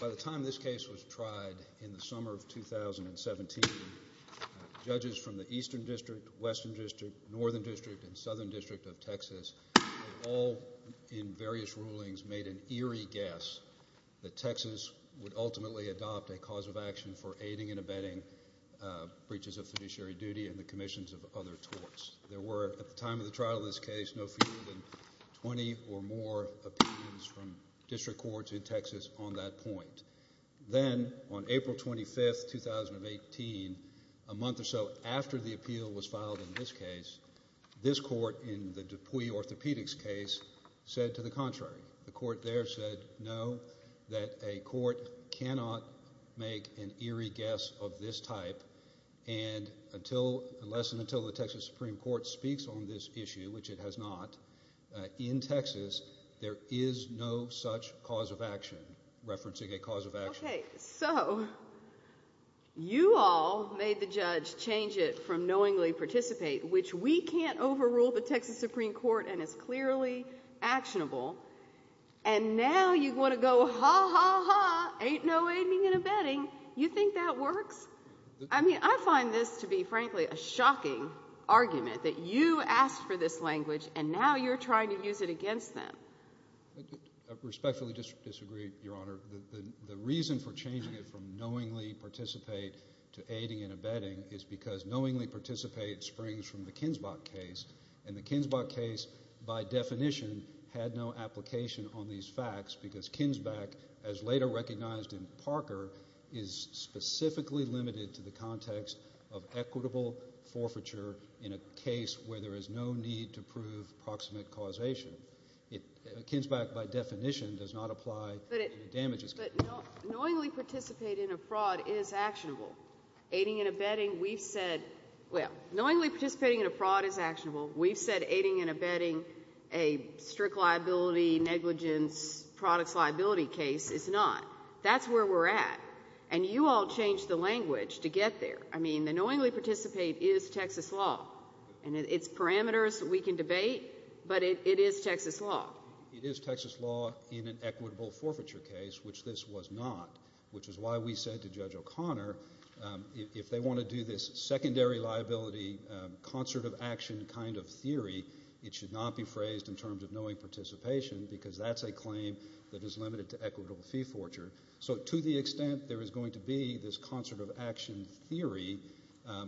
By the time this case was tried in the summer of 2017, judges from the Eastern District, Western District, Northern District, and Southern District of Texas all, in various rulings, made an eerie guess that Texas would ultimately adopt a cause of action for aiding and abetting breaches of fiduciary duty and the commissions of other torts. There were, at the time of the trial of this case, no fewer than 20 or more opinions from district courts in Texas on that point. Then, on April 25, 2018, a month or so after the appeal was filed in this case, this court in the Dupuy Orthopedics case said to the contrary. The court there said, no, that a court cannot make an eerie guess of this type. And less than until the Texas Supreme Court speaks on this issue, which it has not, in Texas, there is no such cause of action, referencing a cause of action. Okay, so you all made the judge change it from knowingly participate, which we can't overrule the Texas Supreme Court and is clearly actionable. And now you want to go, ha, ha, ha, ain't no aiding and abetting. You think that works? I mean, I find this to be, frankly, a shocking argument that you asked for this language, and now you're trying to use it against them. I respectfully disagree, Your Honor. The reason for changing it from knowingly participate to aiding and abetting is because knowingly participate springs from the Kinzbach case. And the Kinzbach case, by definition, had no application on these facts because Kinzbach, as later recognized in Parker, is specifically limited to the context of equitable forfeiture in a case where there is no need to prove proximate causation. Kinzbach, by definition, does not apply to damages. But knowingly participate in a fraud is actionable. Aiding and abetting, we've said, well, knowingly participating in a fraud is actionable. We've said aiding and abetting a strict liability, negligence, products liability case is not. That's where we're at. And you all changed the language to get there. I mean, the knowingly participate is Texas law. And it's parameters we can debate, but it is Texas law. It is Texas law in an equitable forfeiture case, which this was not, which is why we said to Judge O'Connor, if they want to do this secondary liability concert of action kind of theory, it should not be phrased in terms of knowing participation because that's a claim that is limited to equitable fee forfeiture. So to the extent there is going to be this concert of action theory,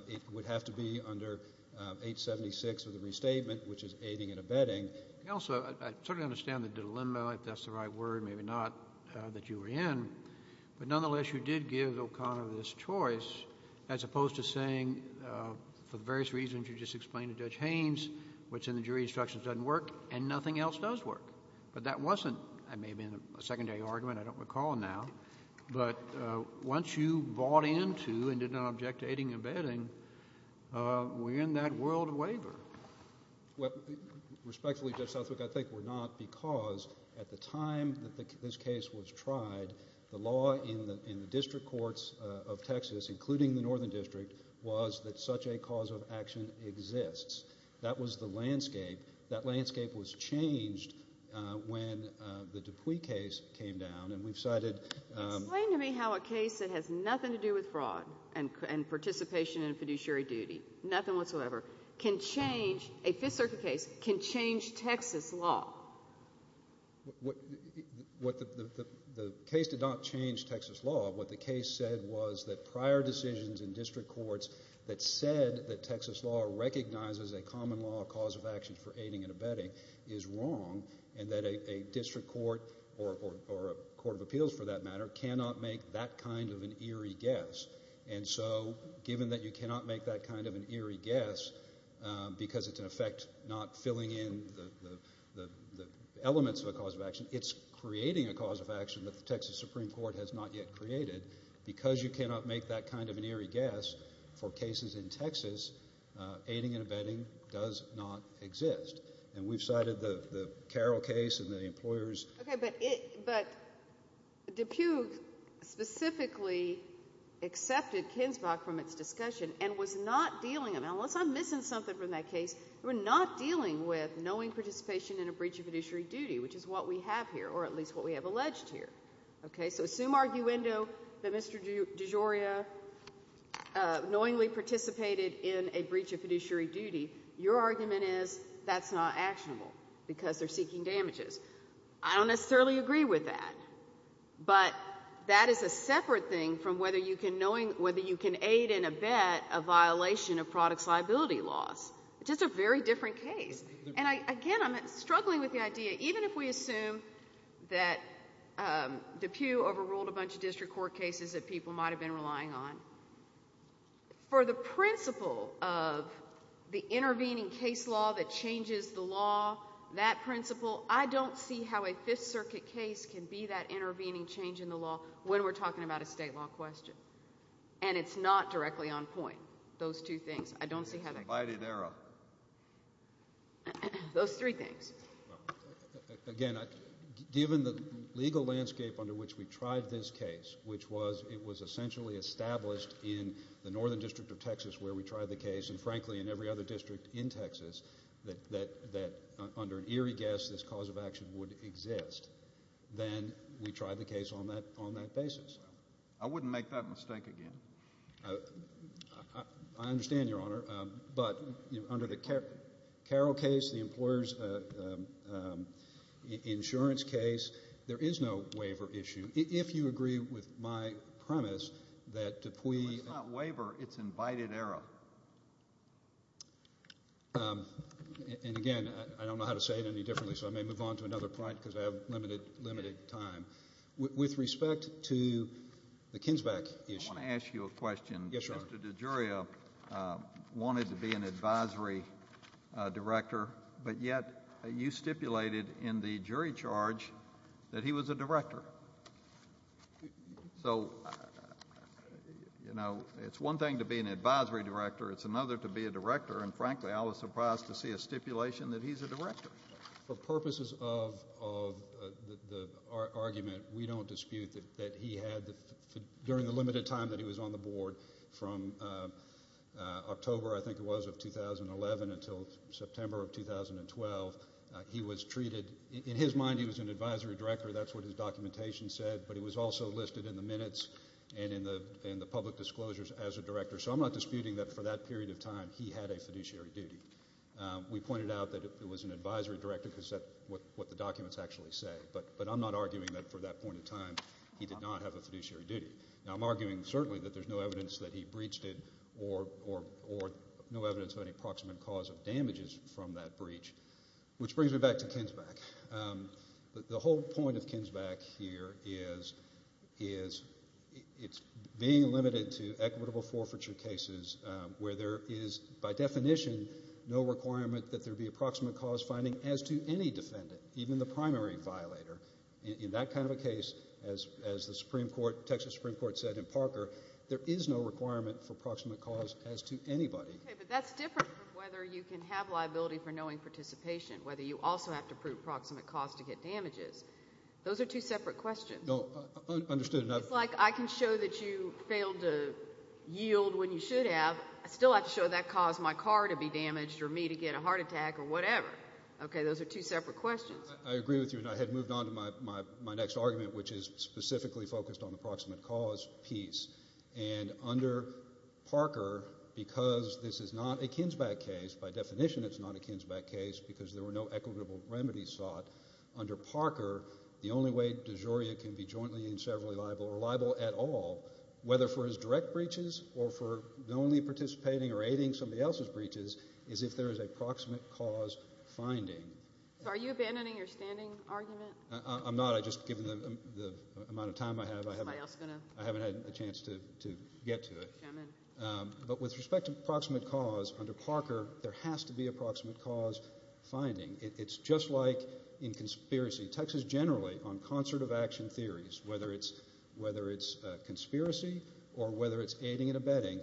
it would have to be under 876 of the restatement, which is aiding and abetting. Also, I certainly understand the dilemma, if that's the right word, maybe not, that you were in. But nonetheless, you did give O'Connor this choice as opposed to saying for the various reasons you just explained to Judge Haynes, what's in the jury instructions doesn't work and nothing else does work. But that wasn't maybe a secondary argument. I don't recall now. But once you bought into and did not object to aiding and abetting, we're in that world of waiver. Well, respectfully, Judge Southwick, I think we're not because at the time that this case was tried, the law in the district courts of Texas, including the northern district, was that such a cause of action exists. That was the landscape. That landscape was changed when the Dupuy case came down. And we've cited – Explain to me how a case that has nothing to do with fraud and participation in a fiduciary duty, nothing whatsoever, can change – a Fifth Circuit case can change Texas law. The case did not change Texas law. What the case said was that prior decisions in district courts that said that Texas law recognizes a common law cause of action for aiding and abetting is wrong and that a district court or a court of appeals, for that matter, cannot make that kind of an eerie guess. And so given that you cannot make that kind of an eerie guess because it's, in effect, not filling in the elements of a cause of action, it's creating a cause of action that the Texas Supreme Court has not yet created. Because you cannot make that kind of an eerie guess for cases in Texas, aiding and abetting does not exist. And we've cited the Carroll case and the employers – Okay, but Dupuy specifically accepted Kinsbach from its discussion and was not dealing – and unless I'm missing something from that case – they were not dealing with knowing participation in a breach of fiduciary duty, which is what we have here, or at least what we have alleged here. So assume arguendo that Mr. DeGioia knowingly participated in a breach of fiduciary duty. Your argument is that's not actionable because they're seeking damages. I don't necessarily agree with that. But that is a separate thing from whether you can aid and abet a violation of products liability laws. It's just a very different case. And again, I'm struggling with the idea. Even if we assume that Dupuy overruled a bunch of district court cases that people might have been relying on, for the principle of the intervening case law that changes the law, that principle, I don't see how a Fifth Circuit case can be that intervening change in the law when we're talking about a state law question. And it's not directly on point, those two things. I don't see how that – Invited error. Those three things. Again, given the legal landscape under which we tried this case, which was it was essentially established in the northern district of Texas where we tried the case, and frankly in every other district in Texas, that under an eerie guess this cause of action would exist, then we tried the case on that basis. I wouldn't make that mistake again. I understand, Your Honor. But under the Carroll case, the employer's insurance case, there is no waiver issue. If you agree with my premise that Dupuy – It's not waiver. It's invited error. And again, I don't know how to say it any differently, so I may move on to another point because I have limited time. With respect to the Kinsback issue – I want to ask you a question. Yes, Your Honor. Mr. DeGioia wanted to be an advisory director, but yet you stipulated in the jury charge that he was a director. So, you know, it's one thing to be an advisory director. It's another to be a director, and frankly I was surprised to see a stipulation that he's a director. For purposes of the argument, we don't dispute that he had, during the limited time that he was on the board, from October, I think it was, of 2011 until September of 2012, he was treated – in his mind, he was an advisory director. That's what his documentation said. But he was also listed in the minutes and in the public disclosures as a director. So I'm not disputing that for that period of time he had a fiduciary duty. We pointed out that it was an advisory director because that's what the documents actually say. But I'm not arguing that for that point of time he did not have a fiduciary duty. Now, I'm arguing certainly that there's no evidence that he breached it or no evidence of any proximate cause of damages from that breach, which brings me back to Kinsback. The whole point of Kinsback here is it's being limited to equitable forfeiture cases where there is, by definition, no requirement that there be a proximate cause finding, as to any defendant, even the primary violator. In that kind of a case, as the Texas Supreme Court said in Parker, there is no requirement for proximate cause as to anybody. Okay, but that's different from whether you can have liability for knowing participation, whether you also have to prove proximate cause to get damages. Those are two separate questions. No, understood. It's like I can show that you failed to yield when you should have. I still have to show that caused my car to be damaged or me to get a heart attack or whatever. Okay, those are two separate questions. I agree with you, and I had moved on to my next argument, which is specifically focused on the proximate cause piece. And under Parker, because this is not a Kinsback case, by definition it's not a Kinsback case because there were no equitable remedies sought, under Parker the only way de jure can be jointly and severally liable or liable at all, whether for his direct breaches or for only participating or aiding somebody else's breaches, is if there is a proximate cause finding. So are you abandoning your standing argument? I'm not. I just, given the amount of time I have, I haven't had a chance to get to it. But with respect to proximate cause, under Parker there has to be a proximate cause finding. It's just like in conspiracy. Texas generally, on concert of action theories, whether it's conspiracy or whether it's aiding and abetting,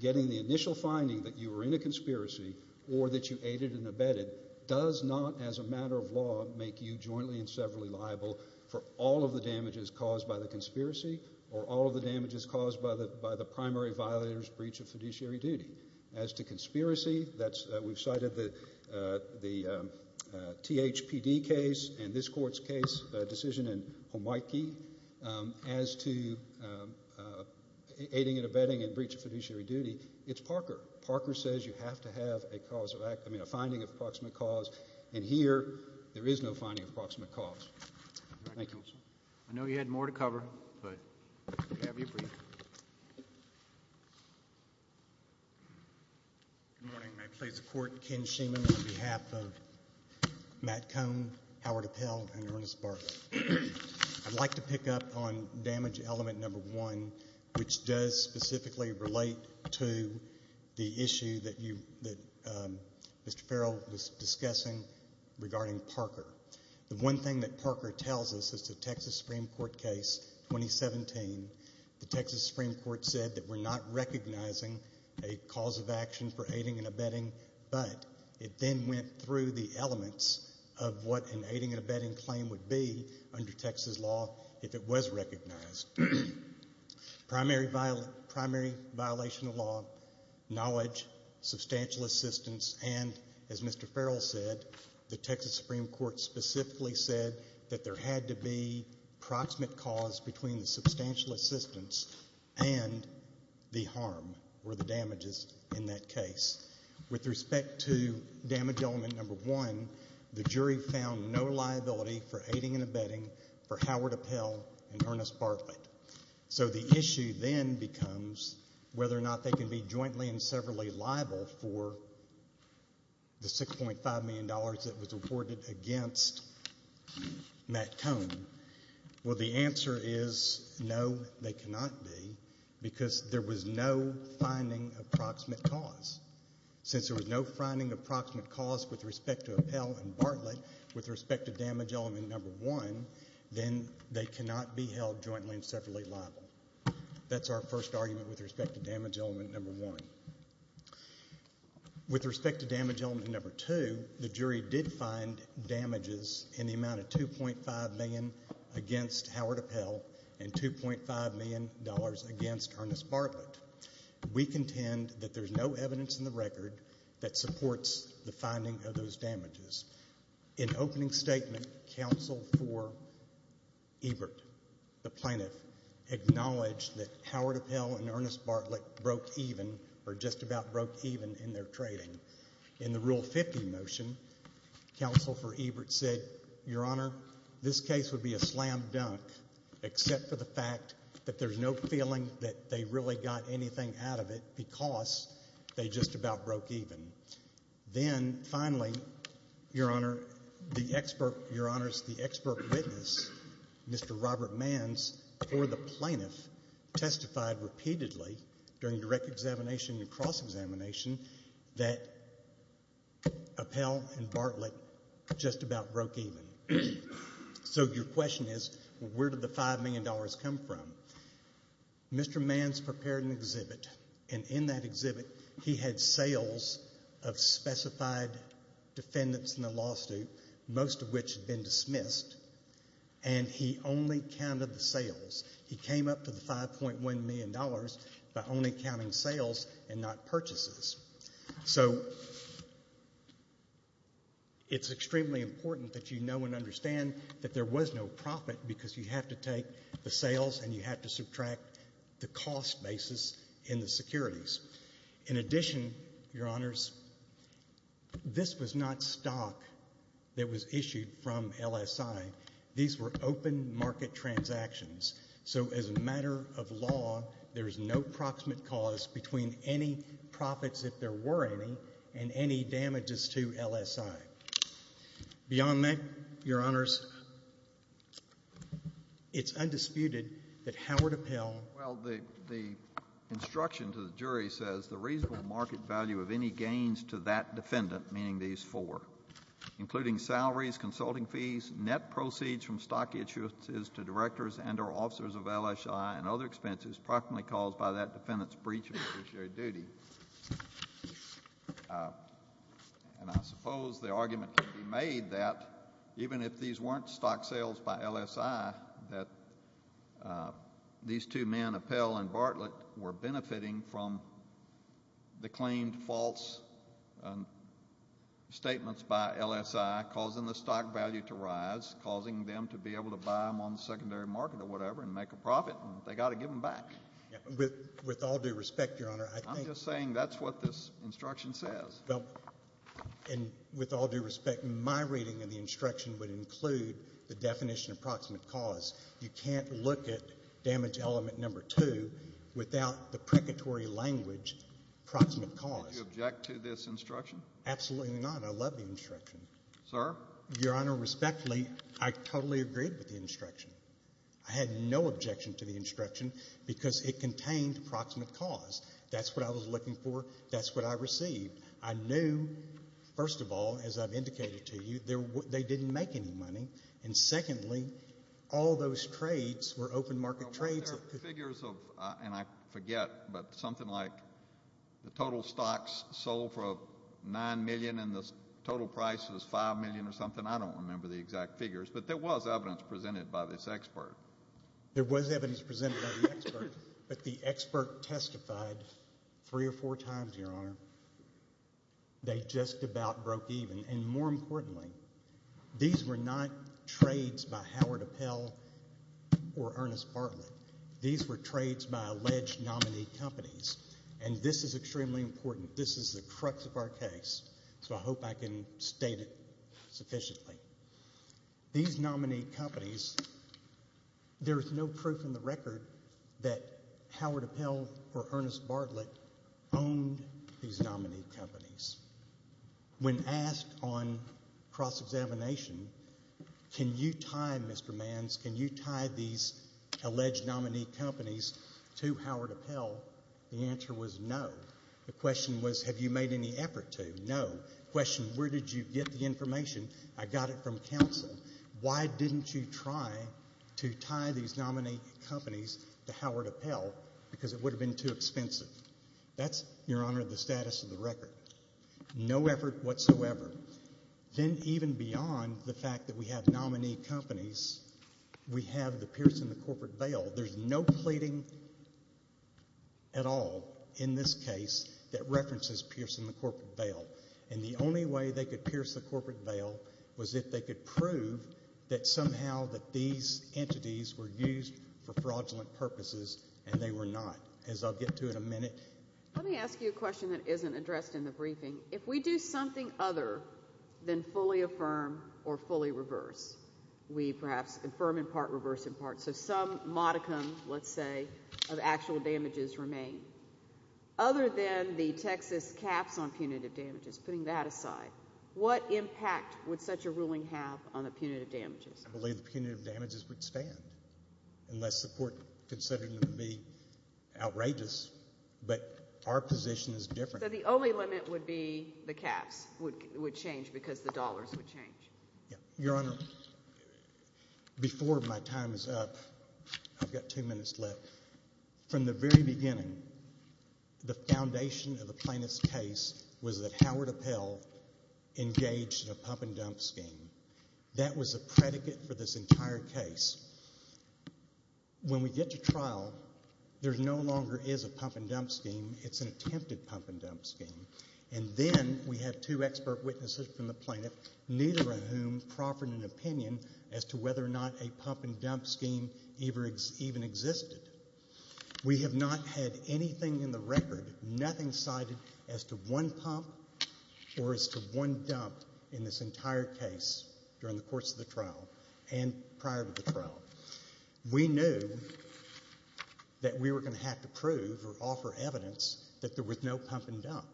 getting the initial finding that you were in a conspiracy or that you aided and abetted does not as a matter of law make you jointly and severally liable for all of the damages caused by the conspiracy or all of the damages caused by the primary violator's breach of fiduciary duty. As to conspiracy, we've cited the THPD case and this court's case decision in Homiki. As to aiding and abetting and breach of fiduciary duty, it's Parker. Parker says you have to have a finding of proximate cause, and here there is no finding of proximate cause. Thank you. Thank you, counsel. I know you had more to cover, but we'll have you brief. Good morning. May it please the Court. Ken Schuman on behalf of Matt Cohn, Howard Appell, and Ernest Barker. I'd like to pick up on damage element number one, which does specifically relate to the issue that Mr. Farrell was discussing regarding Parker. The one thing that Parker tells us is the Texas Supreme Court case 2017. The Texas Supreme Court said that we're not recognizing a cause of action for aiding and abetting, but it then went through the elements of what an aiding and abetting claim would be under Texas law if it was recognized. Primary violation of law, knowledge, substantial assistance, and as Mr. Farrell said, the Texas Supreme Court specifically said that there had to be proximate cause between the substantial assistance and the harm or the damages in that case. With respect to damage element number one, the jury found no liability for aiding and abetting for Howard Appell and Ernest Barker. So the issue then becomes whether or not they can be jointly and severally liable for the $6.5 million that was awarded against Matt Cohn. Well, the answer is no, they cannot be, because there was no finding of proximate cause. Since there was no finding of proximate cause with respect to Appell and Bartlett, with respect to damage element number one, then they cannot be held jointly and severally liable. That's our first argument with respect to damage element number one. With respect to damage element number two, the jury did find damages in the amount of $2.5 million against Howard Appell and $2.5 million against Ernest Bartlett. We contend that there's no evidence in the record that supports the finding of those damages. In opening statement, counsel for Ebert, the plaintiff, acknowledged that Howard Appell and Ernest Bartlett broke even or just about broke even in their trading. In the Rule 50 motion, counsel for Ebert said, Your Honor, this case would be a slam dunk except for the fact that there's no feeling that they really got anything out of it because they just about broke even. Then, finally, Your Honor, the expert witness, Mr. Robert Manns, or the plaintiff, testified repeatedly during direct examination and cross-examination that Appell and Bartlett just about broke even. So your question is, where did the $5 million come from? Mr. Manns prepared an exhibit, and in that exhibit, he had sales of specified defendants in the lawsuit, most of which had been dismissed, and he only counted the sales. He came up to the $5.1 million by only counting sales and not purchases. So it's extremely important that you know and understand that there was no profit because you have to take the sales and you have to subtract the cost basis in the securities. In addition, Your Honors, this was not stock that was issued from LSI. These were open market transactions. So as a matter of law, there is no proximate cause between any profits, if there were any, and any damages to LSI. Beyond that, Your Honors, it's undisputed that Howard Appell... Well, the instruction to the jury says the reasonable market value of any gains to that defendant, meaning these four, including salaries, consulting fees, net proceeds from stock issuances to directors and or officers of LSI and other expenses proximately caused by that defendant's breach of judiciary duty. And I suppose the argument can be made that even if these weren't stock sales by LSI, that these two men, Appell and Bartlett, were benefiting from the claimed false statements by LSI causing the stock value to rise, causing them to be able to buy them on the secondary market or whatever and make a profit. They've got to give them back. With all due respect, Your Honor, I think... I'm just saying that's what this instruction says. Well, and with all due respect, my reading of the instruction would include the definition of proximate cause. You can't look at damage element number two without the precatory language, proximate cause. Did you object to this instruction? Absolutely not. I love the instruction. Sir? Your Honor, respectfully, I totally agreed with the instruction. I had no objection to the instruction because it contained proximate cause. That's what I was looking for. That's what I received. I knew, first of all, as I've indicated to you, they didn't make any money. And secondly, all those trades were open market trades. Well, weren't there figures of, and I forget, but something like the total stocks sold for $9 million and the total price was $5 million or something? I don't remember the exact figures, but there was evidence presented by this expert. There was evidence presented by the expert. But the expert testified three or four times, Your Honor. They just about broke even. And more importantly, these were not trades by Howard Appel or Ernest Bartlett. These were trades by alleged nominee companies, and this is extremely important. This is the crux of our case, so I hope I can state it sufficiently. These nominee companies, there is no proof in the record that Howard Appel or Ernest Bartlett owned these nominee companies. When asked on cross-examination, can you tie, Mr. Manns, can you tie these alleged nominee companies to Howard Appel, the answer was no. The question was, have you made any effort to? No. I got it from counsel. Why didn't you try to tie these nominee companies to Howard Appel? Because it would have been too expensive. That's, Your Honor, the status of the record. No effort whatsoever. Then even beyond the fact that we have nominee companies, we have the Pierce and the Corporate Vale. There's no pleading at all in this case that references Pierce and the Corporate Vale. And the only way they could Pierce the Corporate Vale was if they could prove that somehow that these entities were used for fraudulent purposes, and they were not, as I'll get to in a minute. Let me ask you a question that isn't addressed in the briefing. If we do something other than fully affirm or fully reverse, we perhaps affirm in part, reverse in part, so some modicum, let's say, of actual damages remain. Other than the Texas caps on punitive damages, putting that aside, what impact would such a ruling have on the punitive damages? I believe the punitive damages would stand unless the court considered them to be outrageous. But our position is different. So the only limit would be the caps would change because the dollars would change. Your Honor, before my time is up, I've got two minutes left. From the very beginning, the foundation of the plaintiff's case was that Howard Appell engaged in a pump-and-dump scheme. That was a predicate for this entire case. When we get to trial, there no longer is a pump-and-dump scheme. It's an attempted pump-and-dump scheme. And then we had two expert witnesses from the plaintiff, neither of whom proffered an opinion as to whether or not a pump-and-dump scheme even existed. We have not had anything in the record, nothing cited as to one pump or as to one dump in this entire case during the course of the trial and prior to the trial. We knew that we were going to have to prove or offer evidence that there was no pump-and-dump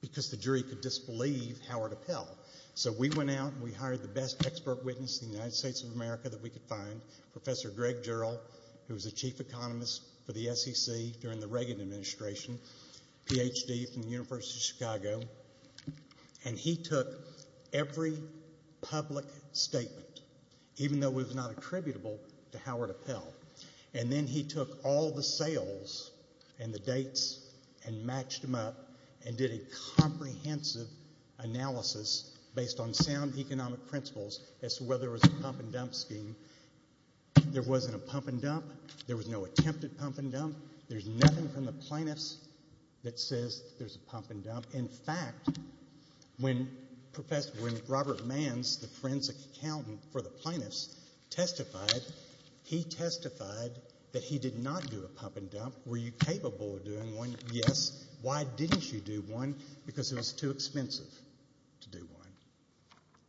because the jury could disbelieve Howard Appell. So we went out and we hired the best expert witness in the United States of America that we could find, Professor Greg Jarrell, who was the chief economist for the SEC during the Reagan administration, PhD from the University of Chicago. And he took every public statement, even though it was not attributable to Howard Appell. And then he took all the sales and the dates and matched them up and did a comprehensive analysis based on sound economic principles as to whether there was a pump-and-dump scheme. There wasn't a pump-and-dump. There was no attempted pump-and-dump. There's nothing from the plaintiffs that says there's a pump-and-dump. In fact, when Robert Manns, the forensic accountant for the plaintiffs, testified, he testified that he did not do a pump-and-dump. Were you capable of doing one? Yes. Why didn't you do one? Because it was too expensive to do one.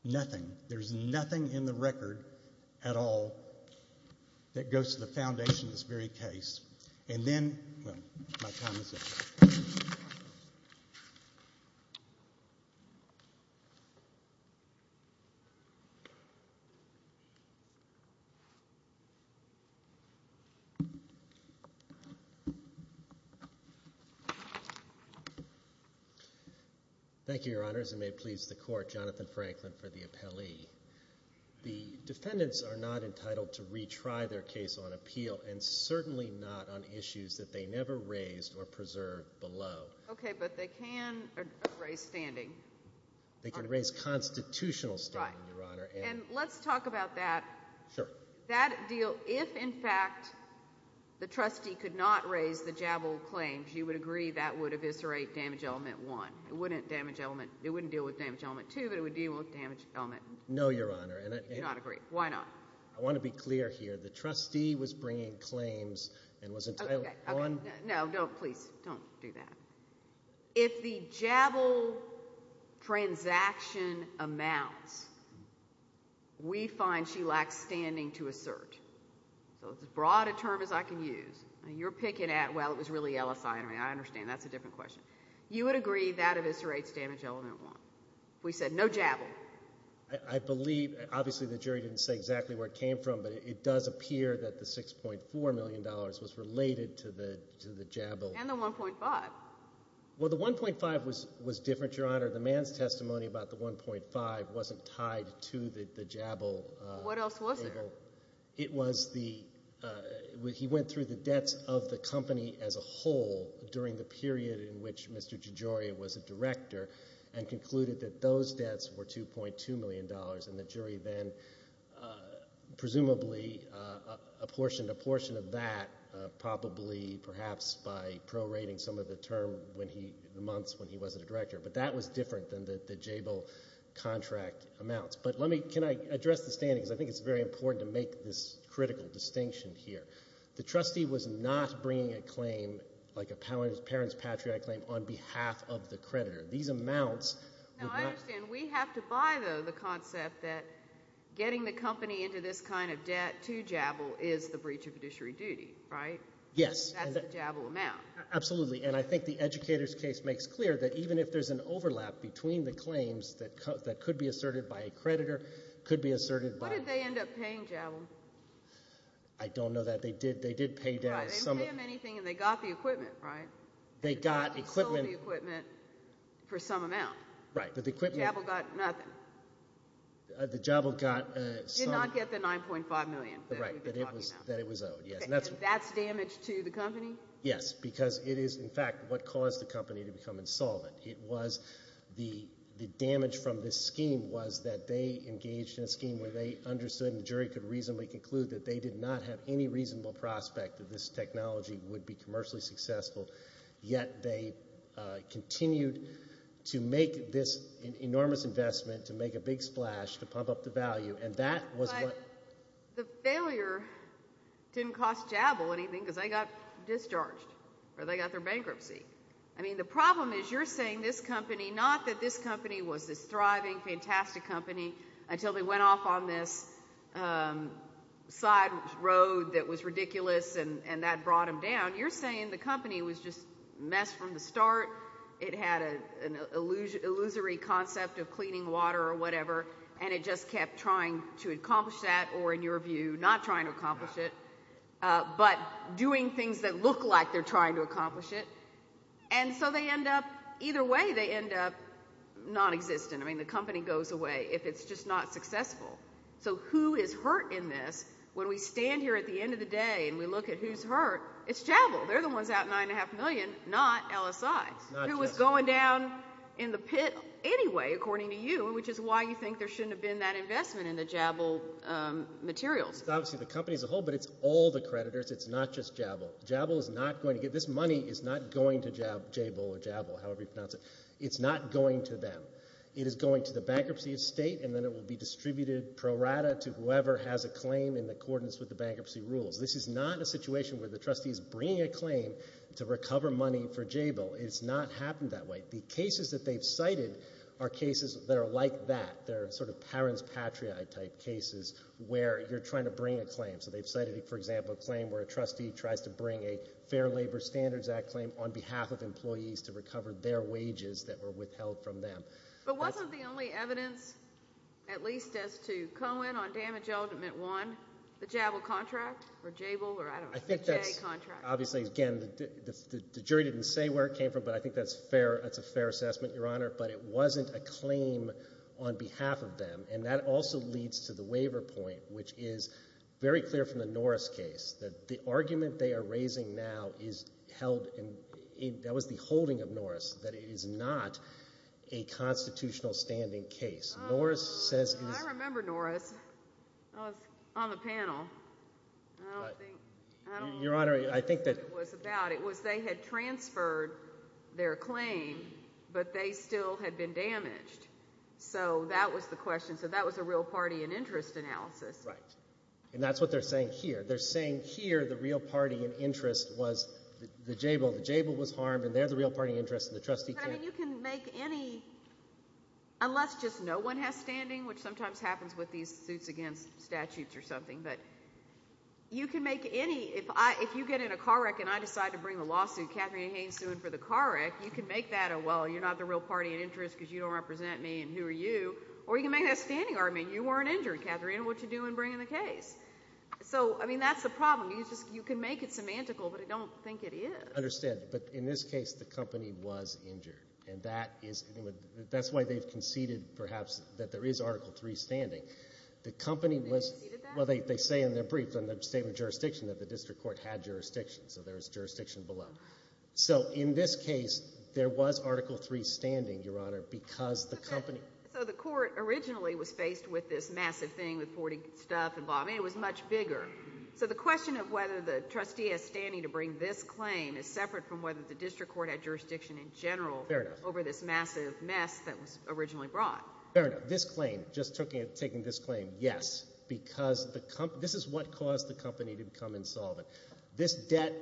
Nothing. There's nothing in the record at all that goes to the foundation of this very case. And then, well, my time is up. Thank you, Your Honors. And may it please the Court, Jonathan Franklin for the appellee. The defendants are not entitled to retry their case on appeal, and certainly not on issues that they never raised or preserved below. Okay, but they can raise standing. They can raise constitutional standing, Your Honor. Right. And let's talk about that. Sure. That deal, if, in fact, the trustee could not raise the Jabal claims, you would agree that would eviscerate damage element one. It wouldn't damage element—it wouldn't deal with damage element two, but it would deal with damage element— No, Your Honor. You do not agree. Why not? I want to be clear here. The trustee was bringing claims and was— Okay, okay. No, no, please. Don't do that. If the Jabal transaction amounts, we find she lacks standing to assert. So it's as broad a term as I can use. You're picking at, well, it was really LSI. I mean, I understand. That's a different question. You would agree that eviscerates damage element one. We said no Jabal. I believe—obviously, the jury didn't say exactly where it came from, but it does appear that the $6.4 million was related to the Jabal. And the 1.5. Well, the 1.5 was different, Your Honor. The man's testimony about the 1.5 wasn't tied to the Jabal cable. What else was there? It was the—he went through the debts of the company as a whole during the period in which Mr. DeGioia was a director and concluded that those debts were $2.2 million, and the jury then presumably apportioned a portion of that, probably perhaps by prorating some of the term when he—the months when he wasn't a director. But that was different than the Jabal contract amounts. But let me—can I address the standings? I think it's very important to make this critical distinction here. The trustee was not bringing a claim like a parent's patriarch claim on behalf of the creditor. These amounts— Now, I understand. We have to buy, though, the concept that getting the company into this kind of debt to Jabal is the breach of judiciary duty, right? Yes. That's the Jabal amount. Absolutely. And I think the educator's case makes clear that even if there's an overlap between the claims that could be asserted by a creditor, could be asserted by— What did they end up paying Jabal? I don't know that. They did pay down some— Right. They didn't pay them anything, and they got the equipment, right? They got equipment— They sold the equipment for some amount. Right. But the equipment— Jabal got nothing. The Jabal got some— Did not get the $9.5 million that we've been talking about. Right. That it was owed, yes. That's damage to the company? Yes, because it is, in fact, what caused the company to become insolvent. It was the damage from this scheme was that they engaged in a scheme where they understood, and the jury could reasonably conclude, that they did not have any reasonable prospect that this technology would be commercially successful, yet they continued to make this enormous investment to make a big splash to pump up the value, and that was what— The failure didn't cost Jabal anything because they got discharged, or they got their bankruptcy. I mean, the problem is you're saying this company—not that this company was this thriving, fantastic company until they went off on this side road that was ridiculous, and that brought them down. You're saying the company was just a mess from the start. It had an illusory concept of cleaning water or whatever, and it just kept trying to accomplish that or, in your view, not trying to accomplish it, but doing things that look like they're trying to accomplish it. And so they end up—either way, they end up nonexistent. I mean, the company goes away if it's just not successful. So who is hurt in this? When we stand here at the end of the day and we look at who's hurt, it's Jabal. They're the ones out $9.5 million, not LSI, who was going down in the pit anyway, according to you, which is why you think there shouldn't have been that investment in the Jabal materials. It's obviously the company as a whole, but it's all the creditors. It's not just Jabal. Jabal is not going to get—this money is not going to Jabal, however you pronounce it. It's not going to them. It is going to the bankruptcy estate, and then it will be distributed pro rata to whoever has a claim in accordance with the bankruptcy rules. This is not a situation where the trustee is bringing a claim to recover money for Jabal. It has not happened that way. The cases that they've cited are cases that are like that. They're sort of parents-patriot type cases where you're trying to bring a claim. So they've cited, for example, a claim where a trustee tries to bring a Fair Labor Standards Act claim on behalf of employees to recover their wages that were withheld from them. But wasn't the only evidence, at least as to Cohen on damage element one, the Jabal contract? I think that's obviously, again, the jury didn't say where it came from, but I think that's a fair assessment, Your Honor, but it wasn't a claim on behalf of them. And that also leads to the waiver point, which is very clear from the Norris case, that the argument they are raising now is held in—that was the holding of Norris, that it is not a constitutional standing case. Norris says it is— I remember Norris. I was on the panel. I don't think—I don't remember what it was about. It was they had transferred their claim, but they still had been damaged. So that was the question. So that was a real party and interest analysis. Right. And that's what they're saying here. They're saying here the real party and interest was the Jabal. The Jabal was harmed, and they're the real party and interest, and the trustee can't— But, I mean, you can make any—unless just no one has standing, which sometimes happens with these suits against statutes or something. But you can make any—if you get in a car wreck and I decide to bring a lawsuit, Katharine Haynes sued for the car wreck, you can make that a, well, you're not the real party and interest because you don't represent me and who are you. Or you can make that a standing argument. You weren't injured, Katharine. What did you do in bringing the case? So, I mean, that's the problem. You can make it semantical, but I don't think it is. I understand. But in this case, the company was injured, and that is— that's why they've conceded perhaps that there is Article III standing. The company was— They conceded that? Well, they say in their brief, in their statement of jurisdiction, that the district court had jurisdiction, so there is jurisdiction below. So, in this case, there was Article III standing, Your Honor, because the company— So, the court originally was faced with this massive thing with 40 stuff involved. I mean, it was much bigger. So, the question of whether the trustee has standing to bring this claim is separate from whether the district court had jurisdiction in general— Fair enough. —over this massive mess that was originally brought. Fair enough. This claim, just taking this claim, yes, because this is what caused the company to become insolvent. This debt,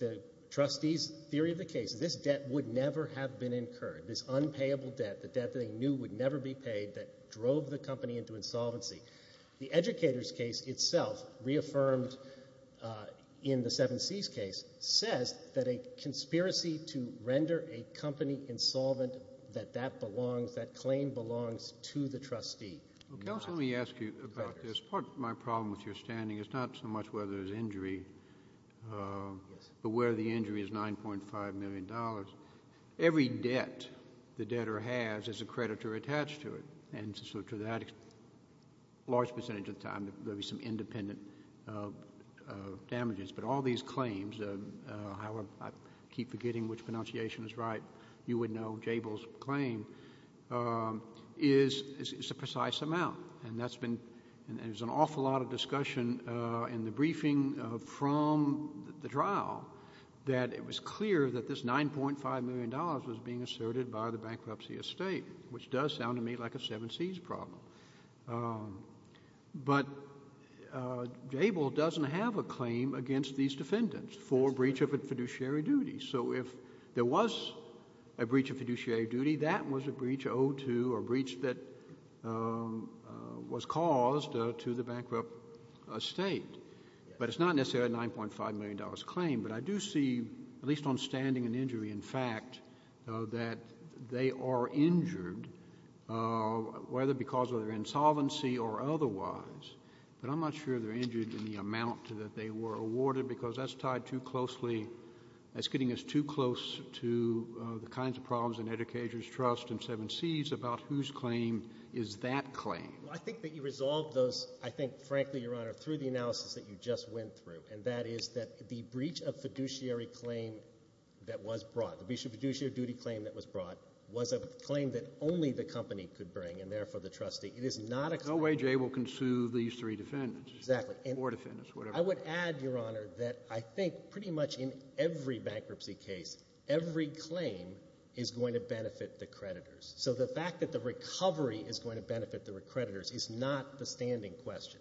the trustees' theory of the case, this debt would never have been incurred, this unpayable debt, the debt that they knew would never be paid, that drove the company into insolvency. The educators' case itself, reaffirmed in the 7Cs case, says that a conspiracy to render a company insolvent, that that belongs, that claim belongs to the trustee. Counsel, let me ask you about this. Part of my problem with your standing is not so much whether there's injury, but where the injury is $9.5 million. Every debt the debtor has is a creditor attached to it, and so to that large percentage of the time, there'll be some independent damages. But all these claims, however, I keep forgetting which pronunciation is right, you would know Jabil's claim, is a precise amount, and there's an awful lot of discussion in the briefing from the trial that it was clear that this $9.5 million was being asserted by the bankruptcy estate, which does sound to me like a 7Cs problem. But Jabil doesn't have a claim against these defendants for breach of a fiduciary duty. So if there was a breach of fiduciary duty, that was a breach owed to or a breach that was caused to the bankrupt estate. But it's not necessarily a $9.5 million claim. But I do see, at least on standing and injury, in fact, that they are injured whether because of their insolvency or otherwise. But I'm not sure they're injured in the amount that they were awarded because that's tied too closely. That's getting us too close to the kinds of problems in educators' trust and 7Cs about whose claim is that claim. Well, I think that you resolved those, I think, frankly, Your Honor, through the analysis that you just went through, and that is that the breach of fiduciary claim that was brought, the breach of fiduciary duty claim that was brought, was a claim that only the company could bring and therefore the trustee. It is not a claim. No way Jabil can sue these three defendants. Exactly. Or defendants, whatever. I would add, Your Honor, that I think pretty much in every bankruptcy case, every claim is going to benefit the creditors. So the fact that the recovery is going to benefit the creditors is not the standing question.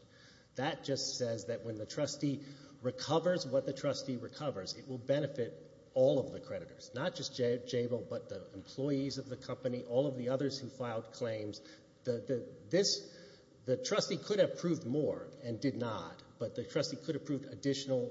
That just says that when the trustee recovers what the trustee recovers, it will benefit all of the creditors, not just Jabil, but the employees of the company, all of the others who filed claims. The trustee could have proved more and did not, but the trustee could have proved additional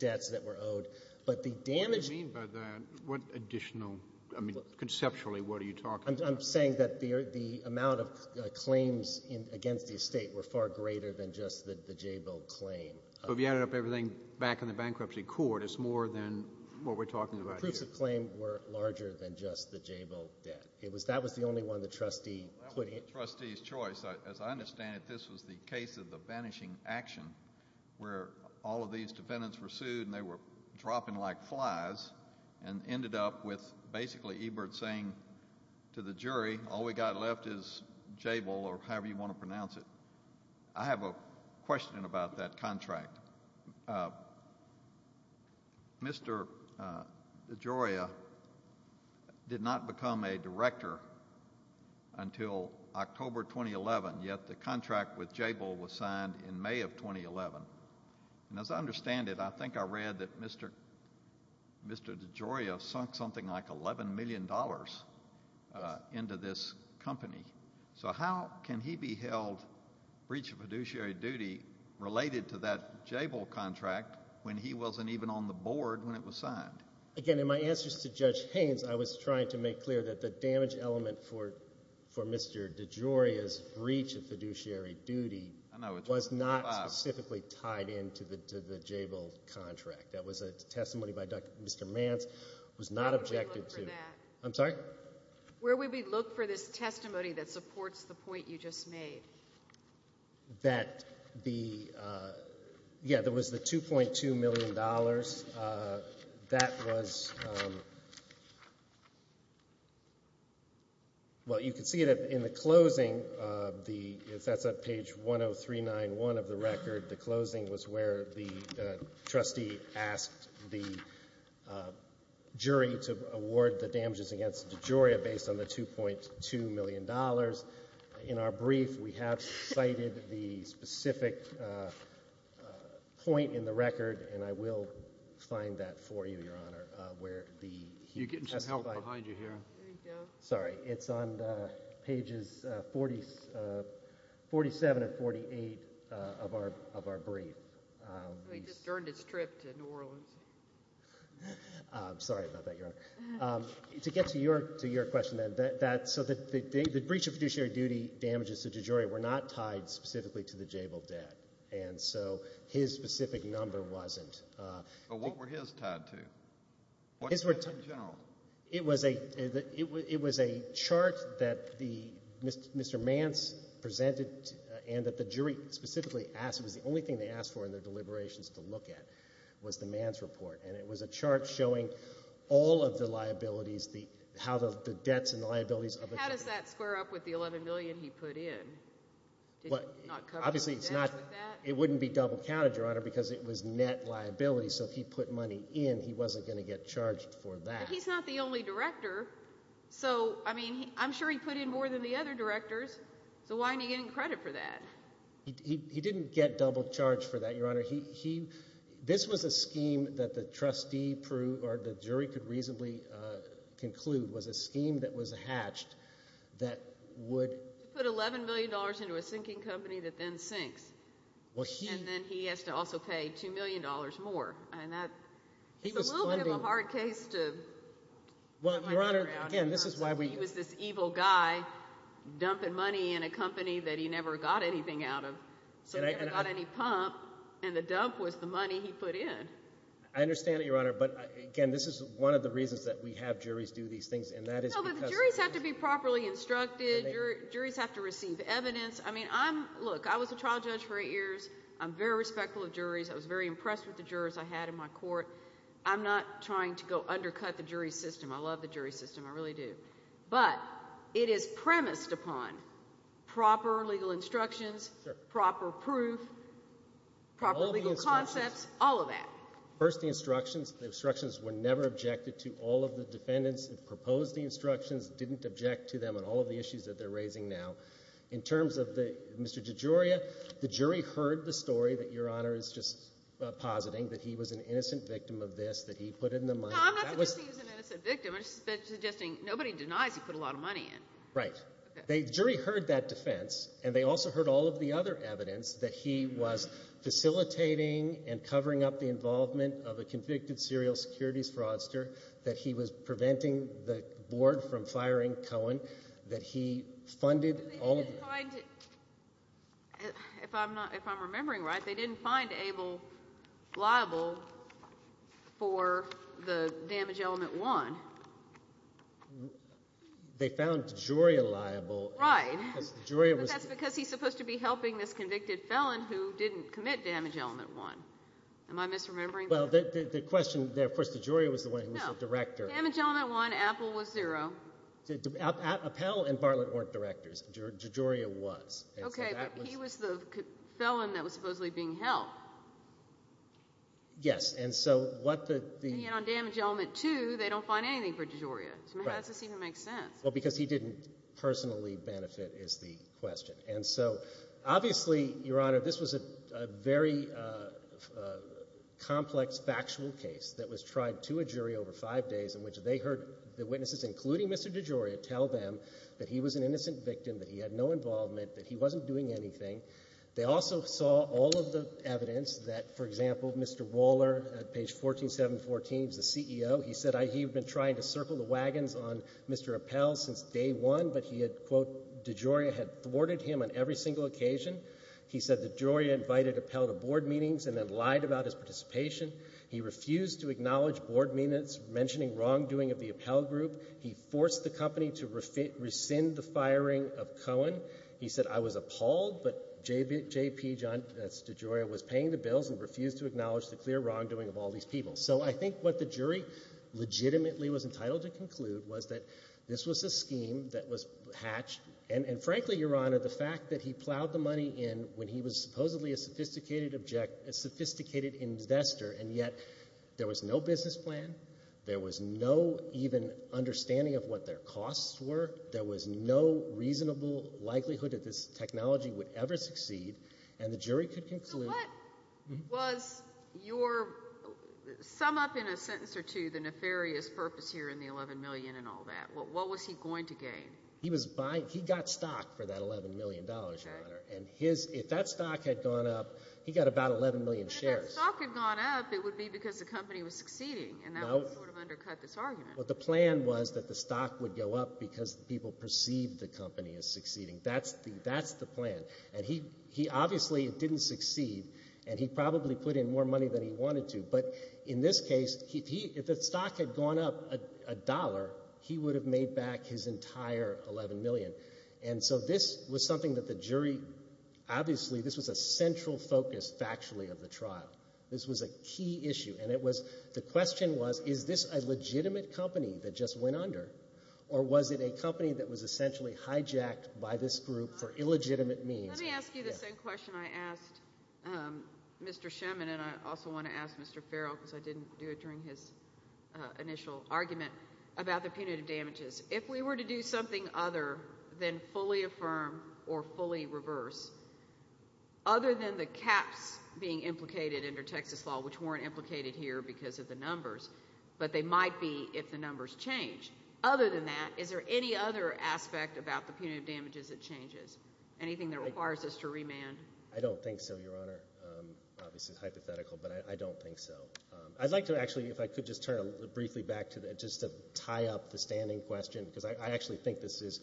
debts that were owed. What do you mean by that? What additional? I mean, conceptually, what are you talking about? I'm saying that the amount of claims against the estate were far greater than just the Jabil claim. So if you added up everything back in the bankruptcy court, it's more than what we're talking about here. The proofs of claim were larger than just the Jabil debt. That was the only one the trustee put in. That was the trustee's choice. As I understand it, this was the case of the vanishing action where all of these defendants were sued and they were dropping like flies and ended up with basically Ebert saying to the jury, all we've got left is Jabil or however you want to pronounce it. I have a question about that contract. Mr. DeGioia did not become a director until October 2011, yet the contract with Jabil was signed in May of 2011. As I understand it, I think I read that Mr. DeGioia sunk something like $11 million into this company. So how can he be held breach of fiduciary duty related to that Jabil contract when he wasn't even on the board when it was signed? Again, in my answers to Judge Haynes, I was trying to make clear that the damage element for Mr. DeGioia's breach of fiduciary duty was not specifically tied into the Jabil contract. That was a testimony by Mr. Mance. Where would we look for that? I'm sorry? Where would we look for this testimony that supports the point you just made? That the, yeah, there was the $2.2 million. That was, well, you can see that in the closing of the, if that's on page 10391 of the record, the closing was where the trustee asked the jury to award the damages against DeGioia based on the $2.2 million. In our brief, we have cited the specific point in the record, and I will find that for you, Your Honor, where he testified. You're getting some help behind you here. There you go. Sorry, it's on pages 47 and 48 of our brief. He just turned his trip to New Orleans. Sorry about that, Your Honor. To get to your question then, so the breach of fiduciary duty damages to DeGioia were not tied specifically to the Jabil debt, and so his specific number wasn't. But what were his tied to? It was a chart that Mr. Mance presented and that the jury specifically asked. It was the only thing they asked for in their deliberations to look at was the Mance report, and it was a chart showing all of the liabilities, how the debts and liabilities of a jury. How does that square up with the $11 million he put in? Obviously, it's not. It wouldn't be double-counted, Your Honor, because it was net liability, so if he put money in, he wasn't going to get charged for that. But he's not the only director. So, I mean, I'm sure he put in more than the other directors, so why aren't you getting credit for that? He didn't get double-charged for that, Your Honor. This was a scheme that the trustee proved or the jury could reasonably conclude was a scheme that was hatched that would Put $11 million into a sinking company that then sinks. And then he has to also pay $2 million more, and that's a little bit of a hard case to... Well, Your Honor, again, this is why we... He was this evil guy dumping money in a company that he never got anything out of, so he never got any pump, and the dump was the money he put in. I understand it, Your Honor, but, again, this is one of the reasons that we have juries do these things, and that is because... No, but the juries have to be properly instructed. Juries have to receive evidence. I mean, I'm... Look, I was a trial judge for eight years. I'm very respectful of juries. I was very impressed with the jurors I had in my court. I'm not trying to go undercut the jury system. I love the jury system. I really do. But it is premised upon proper legal instructions, proper proof, proper legal concepts, all of that. First, the instructions. The instructions were never objected to. All of the defendants that proposed the instructions didn't object to them on all of the issues that they're raising now. In terms of Mr. DeGioia, the jury heard the story that Your Honor is just positing, that he was an innocent victim of this, that he put in the money. No, I'm not suggesting he was an innocent victim. I'm just suggesting nobody denies he put a lot of money in. Right. The jury heard that defense, and they also heard all of the other evidence that he was facilitating and covering up the involvement of a convicted serial securities fraudster, that he was preventing the board from firing Cohen, that he funded all of the— They didn't find—if I'm remembering right, they didn't find Abel liable for the damage element one. They found DeGioia liable. Right. Because DeGioia was— But that's because he's supposed to be helping this convicted felon who didn't commit damage element one. Am I misremembering? Well, the question there, of course, DeGioia was the one who was the director. No. Damage element one, Apple was zero. Apple and Bartlett weren't directors. DeGioia was. Okay, but he was the felon that was supposedly being helped. Yes, and so what the— And yet on damage element two, they don't find anything for DeGioia. Right. So how does this even make sense? Well, because he didn't personally benefit is the question. And so obviously, Your Honor, this was a very complex factual case that was tried to a jury over five days in which they heard the witnesses, including Mr. DeGioia, tell them that he was an innocent victim, that he had no involvement, that he wasn't doing anything. They also saw all of the evidence that, for example, Mr. Waller at page 14714 is the CEO. He said he had been trying to circle the wagons on Mr. Appel since day one, but he had, quote, DeGioia had thwarted him on every single occasion. He said DeGioia invited Appel to board meetings and then lied about his participation. He refused to acknowledge board meetings, mentioning wrongdoing of the Appel group. He forced the company to rescind the firing of Cohen. He said, I was appalled, but JP, that's DeGioia, was paying the bills and refused to acknowledge the clear wrongdoing of all these people. So I think what the jury legitimately was entitled to conclude was that this was a scheme that was hatched, and frankly, Your Honor, the fact that he plowed the money in when he was supposedly a sophisticated investor and yet there was no business plan, there was no even understanding of what their costs were, there was no reasonable likelihood that this technology would ever succeed, and the jury could conclude... So what was your, sum up in a sentence or two, the nefarious purpose here in the $11 million and all that? What was he going to gain? He got stock for that $11 million, Your Honor, and if that stock had gone up, he got about 11 million shares. If the stock had gone up, it would be because the company was succeeding, and that would sort of undercut this argument. Well, the plan was that the stock would go up because people perceived the company as succeeding. That's the plan. And he obviously didn't succeed, and he probably put in more money than he wanted to, but in this case, if the stock had gone up a dollar, he would have made back his entire $11 million. And so this was something that the jury... This was a key issue, and the question was, is this a legitimate company that just went under, or was it a company that was essentially hijacked by this group for illegitimate means? Let me ask you the same question I asked Mr. Shemin, and I also want to ask Mr. Farrell, because I didn't do it during his initial argument, about the punitive damages. If we were to do something other than fully affirm or fully reverse, other than the caps being implicated under Texas law, which weren't implicated here because of the numbers, but they might be if the numbers change, other than that, is there any other aspect about the punitive damages that changes? Anything that requires us to remand? I don't think so, Your Honor. Obviously it's hypothetical, but I don't think so. I'd like to actually, if I could just turn briefly back to that, just to tie up the standing question, because I actually think this is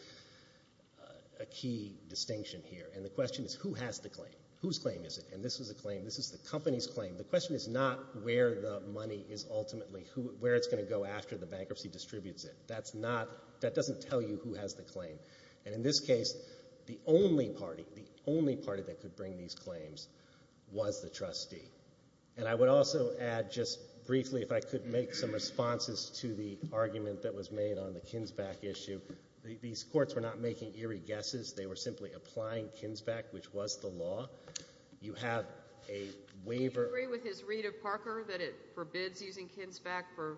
a key distinction here, and the question is who has the claim? Whose claim is it? And this is a claim. This is the company's claim. The question is not where the money is ultimately, where it's going to go after the bankruptcy distributes it. That doesn't tell you who has the claim. And in this case, the only party, the only party that could bring these claims was the trustee. And I would also add just briefly, if I could make some responses to the argument that was made on the Kinsback issue, these courts were not making eerie guesses. They were simply applying Kinsback, which was the law. You have a waiver. Do you agree with his read of Parker that it forbids using Kinsback for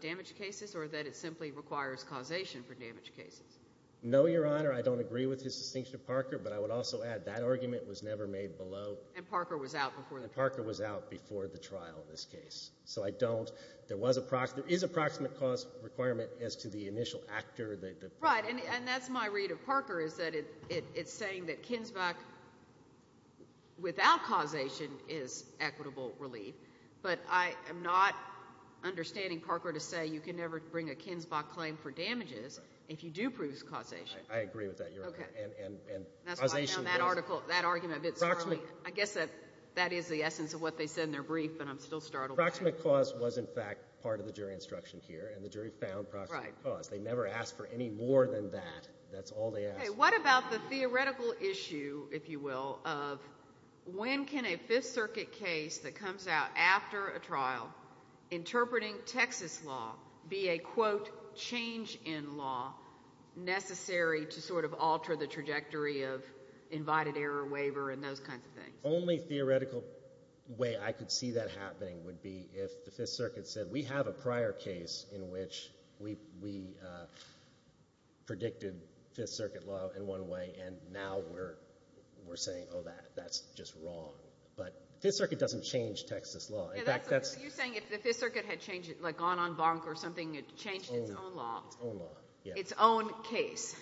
damaged cases or that it simply requires causation for damaged cases? No, Your Honor. I don't agree with his distinction of Parker, but I would also add that argument was never made below. And Parker was out before the trial. And Parker was out before the trial in this case. So I don't. There is a proximate cause requirement as to the initial actor. Right. And that's my read of Parker is that it's saying that Kinsback without causation is equitable relief. But I am not understanding Parker to say you can never bring a Kinsback claim for damages if you do prove causation. I agree with that, Your Honor. Okay. And causation doesn't. That's why I found that argument a bit scurrying. I guess that is the essence of what they said in their brief, but I'm still startled by it. Proximate cause was, in fact, part of the jury instruction here, and the jury found proximate cause. Right. They never asked for any more than that. That's all they asked for. Okay. What about the theoretical issue, if you will, of when can a Fifth Circuit case that comes out after a trial, interpreting Texas law, be a, quote, change in law necessary to sort of alter the trajectory of invited error waiver and those kinds of things? The only theoretical way I could see that happening would be if the Fifth Circuit said, we have a prior case in which we predicted Fifth Circuit law in one way, and now we're saying, oh, that's just wrong. But the Fifth Circuit doesn't change Texas law. You're saying if the Fifth Circuit had gone on bonk or something, it changed its own law. Its own law, yes. Its own case.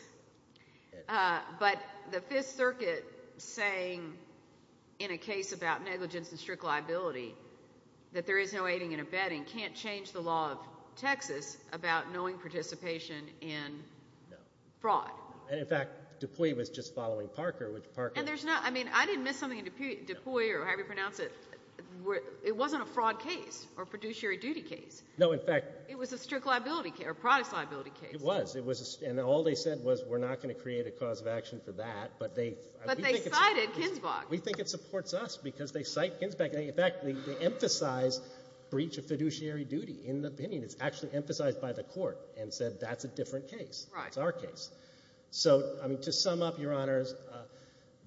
But the Fifth Circuit saying in a case about negligence and strict liability that there is no aiding and abetting can't change the law of Texas about knowing participation in fraud. No. And, in fact, DuPuy was just following Parker, which Parker – And there's no – I mean, I didn't miss something in DuPuy or however you pronounce it. It wasn't a fraud case or a producer duty case. No, in fact – It was a strict liability case or products liability case. It was. And all they said was we're not going to create a cause of action for that, but they – But they cited Kinsbach. We think it supports us because they cite Kinsbach. In fact, they emphasize breach of fiduciary duty in the opinion. It's actually emphasized by the court and said that's a different case. Right. It's our case. So, I mean, to sum up, Your Honors,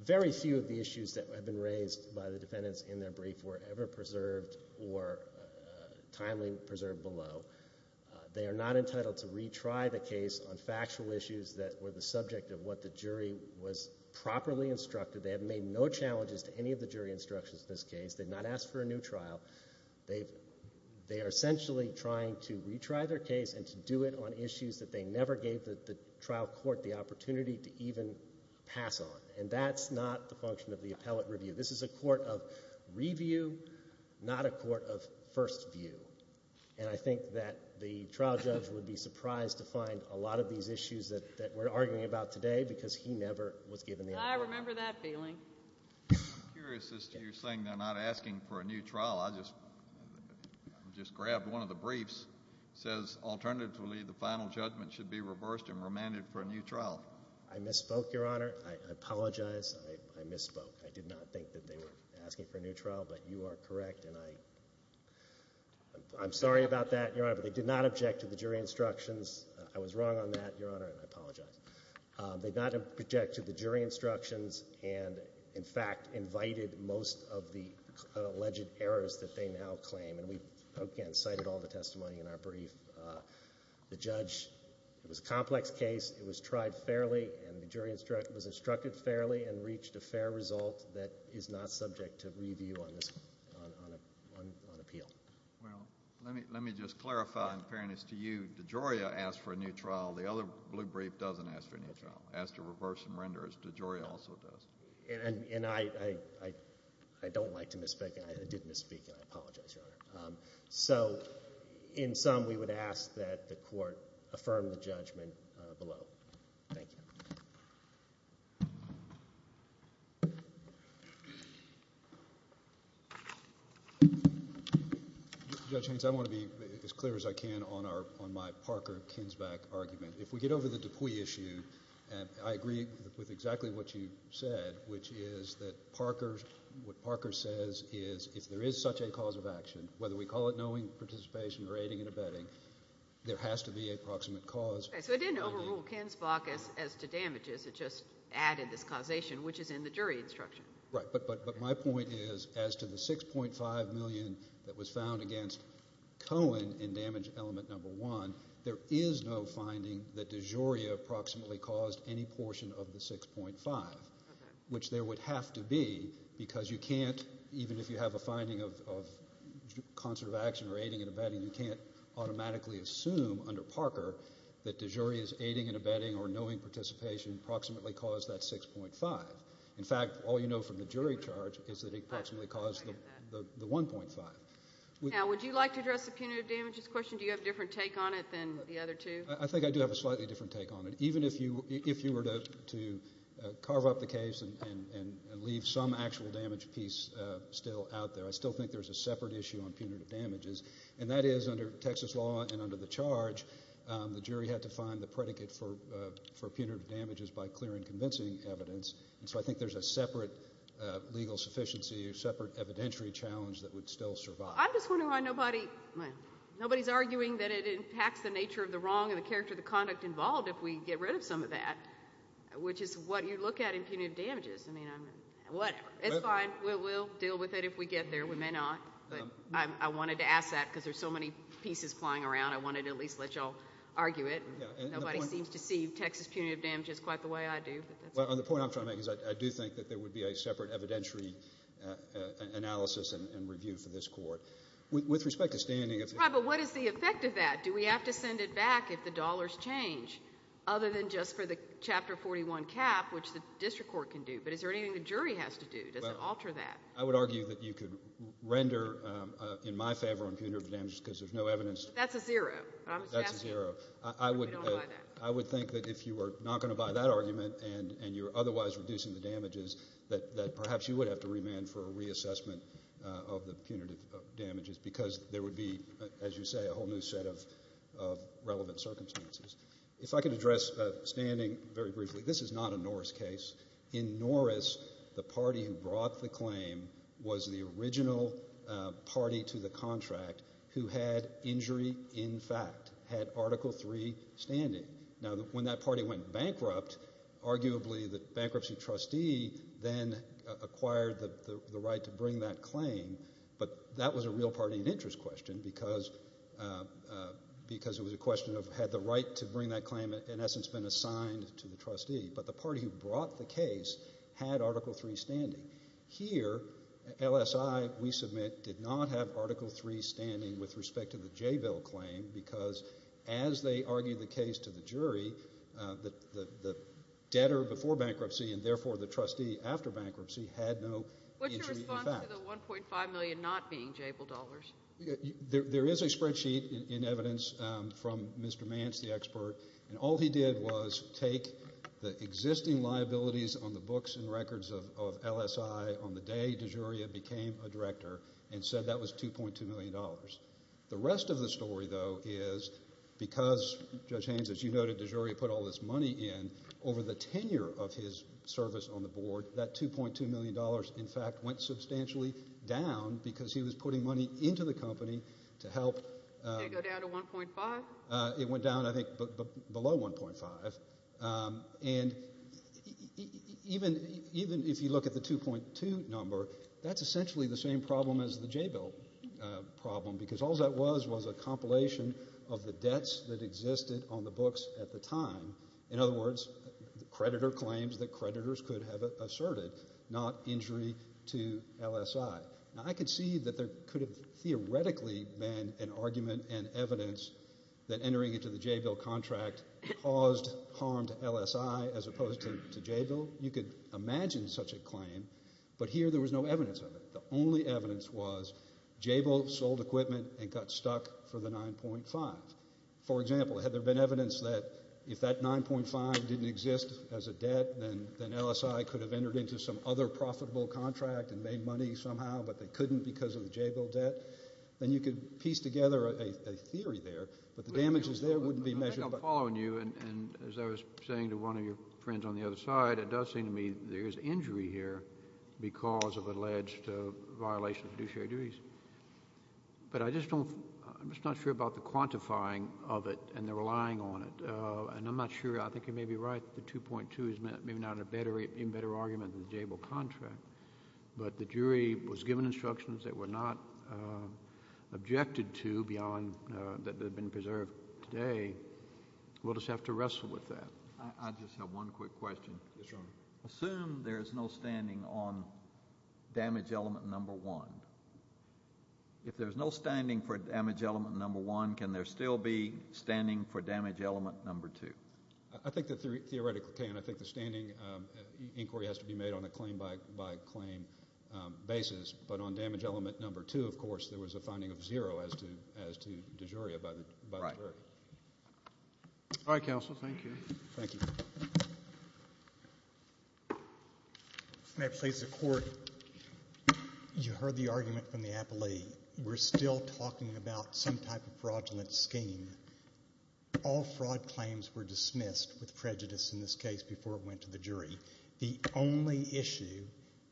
very few of the issues that have been raised by the defendants in their brief were ever preserved or timely preserved below. They are not entitled to retry the case on factual issues that were the subject of what the jury was properly instructed. They have made no challenges to any of the jury instructions in this case. They've not asked for a new trial. They are essentially trying to retry their case and to do it on issues that they never gave the trial court the opportunity to even pass on. And that's not the function of the appellate review. This is a court of review, not a court of first view. And I think that the trial judge would be surprised to find a lot of these issues that we're arguing about today because he never was given the opportunity. I remember that feeling. I'm curious as to your saying they're not asking for a new trial. I just grabbed one of the briefs. It says alternatively the final judgment should be reversed and remanded for a new trial. I misspoke, Your Honor. I apologize. I misspoke. I did not think that they were asking for a new trial, but you are correct. I'm sorry about that, Your Honor, but they did not object to the jury instructions. I was wrong on that, Your Honor, and I apologize. They did not object to the jury instructions and, in fact, invited most of the alleged errors that they now claim. And we, again, cited all the testimony in our brief. The judge, it was a complex case. It was tried fairly and the jury was instructed fairly and reached a fair result that is not subject to review on appeal. Well, let me just clarify, in fairness to you, DeGioia asked for a new trial. The other blue brief doesn't ask for a new trial. It asks to reverse and render, as DeGioia also does. And I don't like to misspeak, and I did misspeak, and I apologize, Your Honor. So in sum, we would ask that the court affirm the judgment below. Thank you. Judge Haynes, I want to be as clear as I can on my Parker-Kinsback argument. If we get over the Dupuy issue, and I agree with exactly what you said, which is that Parker, what Parker says is if there is such a cause of action, whether we call it knowing participation or aiding and abetting, there has to be a proximate cause. Okay, so it didn't overrule Kinsback as to damages. It just added this causation, which is in the jury instruction. Right, but my point is as to the $6.5 million that was found against Cohen in damage element number one, there is no finding that DeGioia proximately caused any portion of the $6.5, which there would have to be because you can't, even if you have a finding of concert of action or aiding and abetting, you can't automatically assume under Parker that DeGioia's aiding and abetting or knowing participation proximately caused that $6.5. In fact, all you know from the jury charge is that it proximately caused the $1.5. Now, would you like to address the punitive damages question? Do you have a different take on it than the other two? I think I do have a slightly different take on it. Even if you were to carve up the case and leave some actual damage piece still out there, I still think there's a separate issue on punitive damages, and that is under Texas law and under the charge the jury had to find the predicate for punitive damages by clearing convincing evidence, and so I think there's a separate legal sufficiency, a separate evidentiary challenge that would still survive. I'm just wondering why nobody's arguing that it impacts the nature of the wrong and the character of the conduct involved if we get rid of some of that, which is what you look at in punitive damages. I mean, whatever. It's fine. We'll deal with it if we get there. We may not, but I wanted to ask that because there's so many pieces flying around. I wanted to at least let you all argue it. Nobody seems to see Texas punitive damages quite the way I do. The point I'm trying to make is I do think that there would be a separate evidentiary analysis and review for this court. With respect to standing. Right, but what is the effect of that? Do we have to send it back if the dollars change other than just for the Chapter 41 cap, which the district court can do, but is there anything the jury has to do? Does it alter that? I would argue that you could render in my favor on punitive damages because there's no evidence. That's a zero. That's a zero. I would think that if you were not going to buy that argument and you're otherwise reducing the damages, that perhaps you would have to remand for a reassessment of the punitive damages because there would be, as you say, a whole new set of relevant circumstances. If I could address standing very briefly. This is not a Norris case. In Norris, the party who brought the claim was the original party to the contract who had injury in fact, had Article III standing. Now, when that party went bankrupt, arguably the bankruptcy trustee then acquired the right to bring that claim, but that was a real party of interest question because it was a question of had the right to bring that claim, in essence, been assigned to the trustee. But the party who brought the case had Article III standing. Here, LSI, we submit, did not have Article III standing with respect to the JVIL claim because as they argued the case to the jury, the debtor before bankruptcy and therefore the trustee after bankruptcy had no injury in fact. What's your response to the $1.5 million not being JVIL dollars? There is a spreadsheet in evidence from Mr. Mance, the expert, and all he did was take the existing liabilities on the books and records of LSI on the day DeGiuria became a director and said that was $2.2 million. The rest of the story, though, is because Judge Haynes, as you noted, DeGiuria put all this money in, over the tenure of his service on the board, that $2.2 million in fact went substantially down because he was putting money into the company to help. Did it go down to 1.5? It went down, I think, below 1.5. And even if you look at the 2.2 number, that's essentially the same problem as the JVIL problem because all that was was a compilation of the debts that existed on the books at the time. In other words, the creditor claims that creditors could have asserted not injury to LSI. Now I could see that there could have theoretically been an argument and evidence that entering into the JVIL contract caused harm to LSI as opposed to JVIL. You could imagine such a claim. But here there was no evidence of it. The only evidence was JVIL sold equipment and got stuck for the 9.5. For example, had there been evidence that if that 9.5 didn't exist as a debt, then LSI could have entered into some other profitable contract and made money somehow, but they couldn't because of the JVIL debt. Then you could piece together a theory there, but the damages there wouldn't be measured. I think I'm following you. And as I was saying to one of your friends on the other side, it does seem to me there is injury here because of alleged violations of fiduciary duties. But I'm just not sure about the quantifying of it and the relying on it. And I'm not sure. I think you may be right that the 2.2 is maybe not a better argument than the JVIL contract, but the jury was given instructions that were not objected to beyond that had been preserved today. We'll just have to wrestle with that. I just have one quick question. Yes, Your Honor. Assume there is no standing on damage element number one. If there is no standing for damage element number one, can there still be standing for damage element number two? I think that theoretically can. I think the standing inquiry has to be made on a claim-by-claim basis. But on damage element number two, of course, there was a finding of zero as to de jure by the jury. Right. All right, counsel. Thank you. Thank you. May I please? The court, you heard the argument from the appellee. We're still talking about some type of fraudulent scheme. All fraud claims were dismissed with prejudice in this case before it went to the jury. The only issue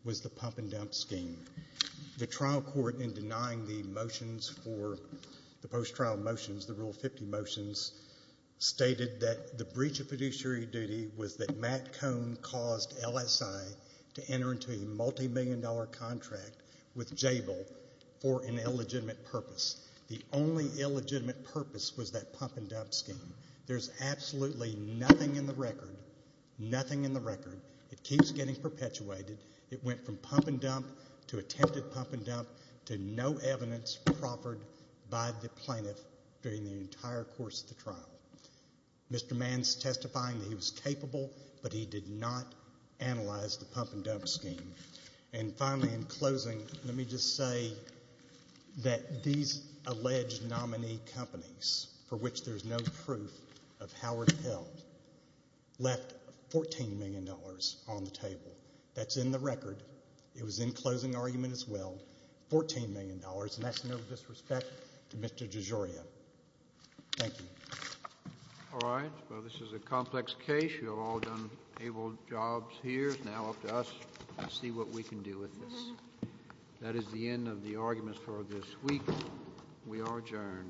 was the pump-and-dump scheme. The trial court, in denying the motions for the post-trial motions, the Rule 50 motions, stated that the breach of fiduciary duty was that Matt Cohn caused LSI to enter into a multimillion-dollar contract with Jabil for an illegitimate purpose. The only illegitimate purpose was that pump-and-dump scheme. There's absolutely nothing in the record, nothing in the record. It keeps getting perpetuated. It went from pump-and-dump to attempted pump-and-dump to no evidence proffered by the plaintiff during the entire course of the trial. Mr. Mann's testifying that he was capable, but he did not analyze the pump-and-dump scheme. And finally, in closing, let me just say that these alleged nominee companies, for which there's no proof of Howard Pell, That's in the record. It was in closing argument as well. $14 million, and that's no disrespect to Mr. DeGioia. Thank you. All right. Well, this is a complex case. You've all done able jobs here. It's now up to us to see what we can do with this. That is the end of the arguments for this week. We are adjourned.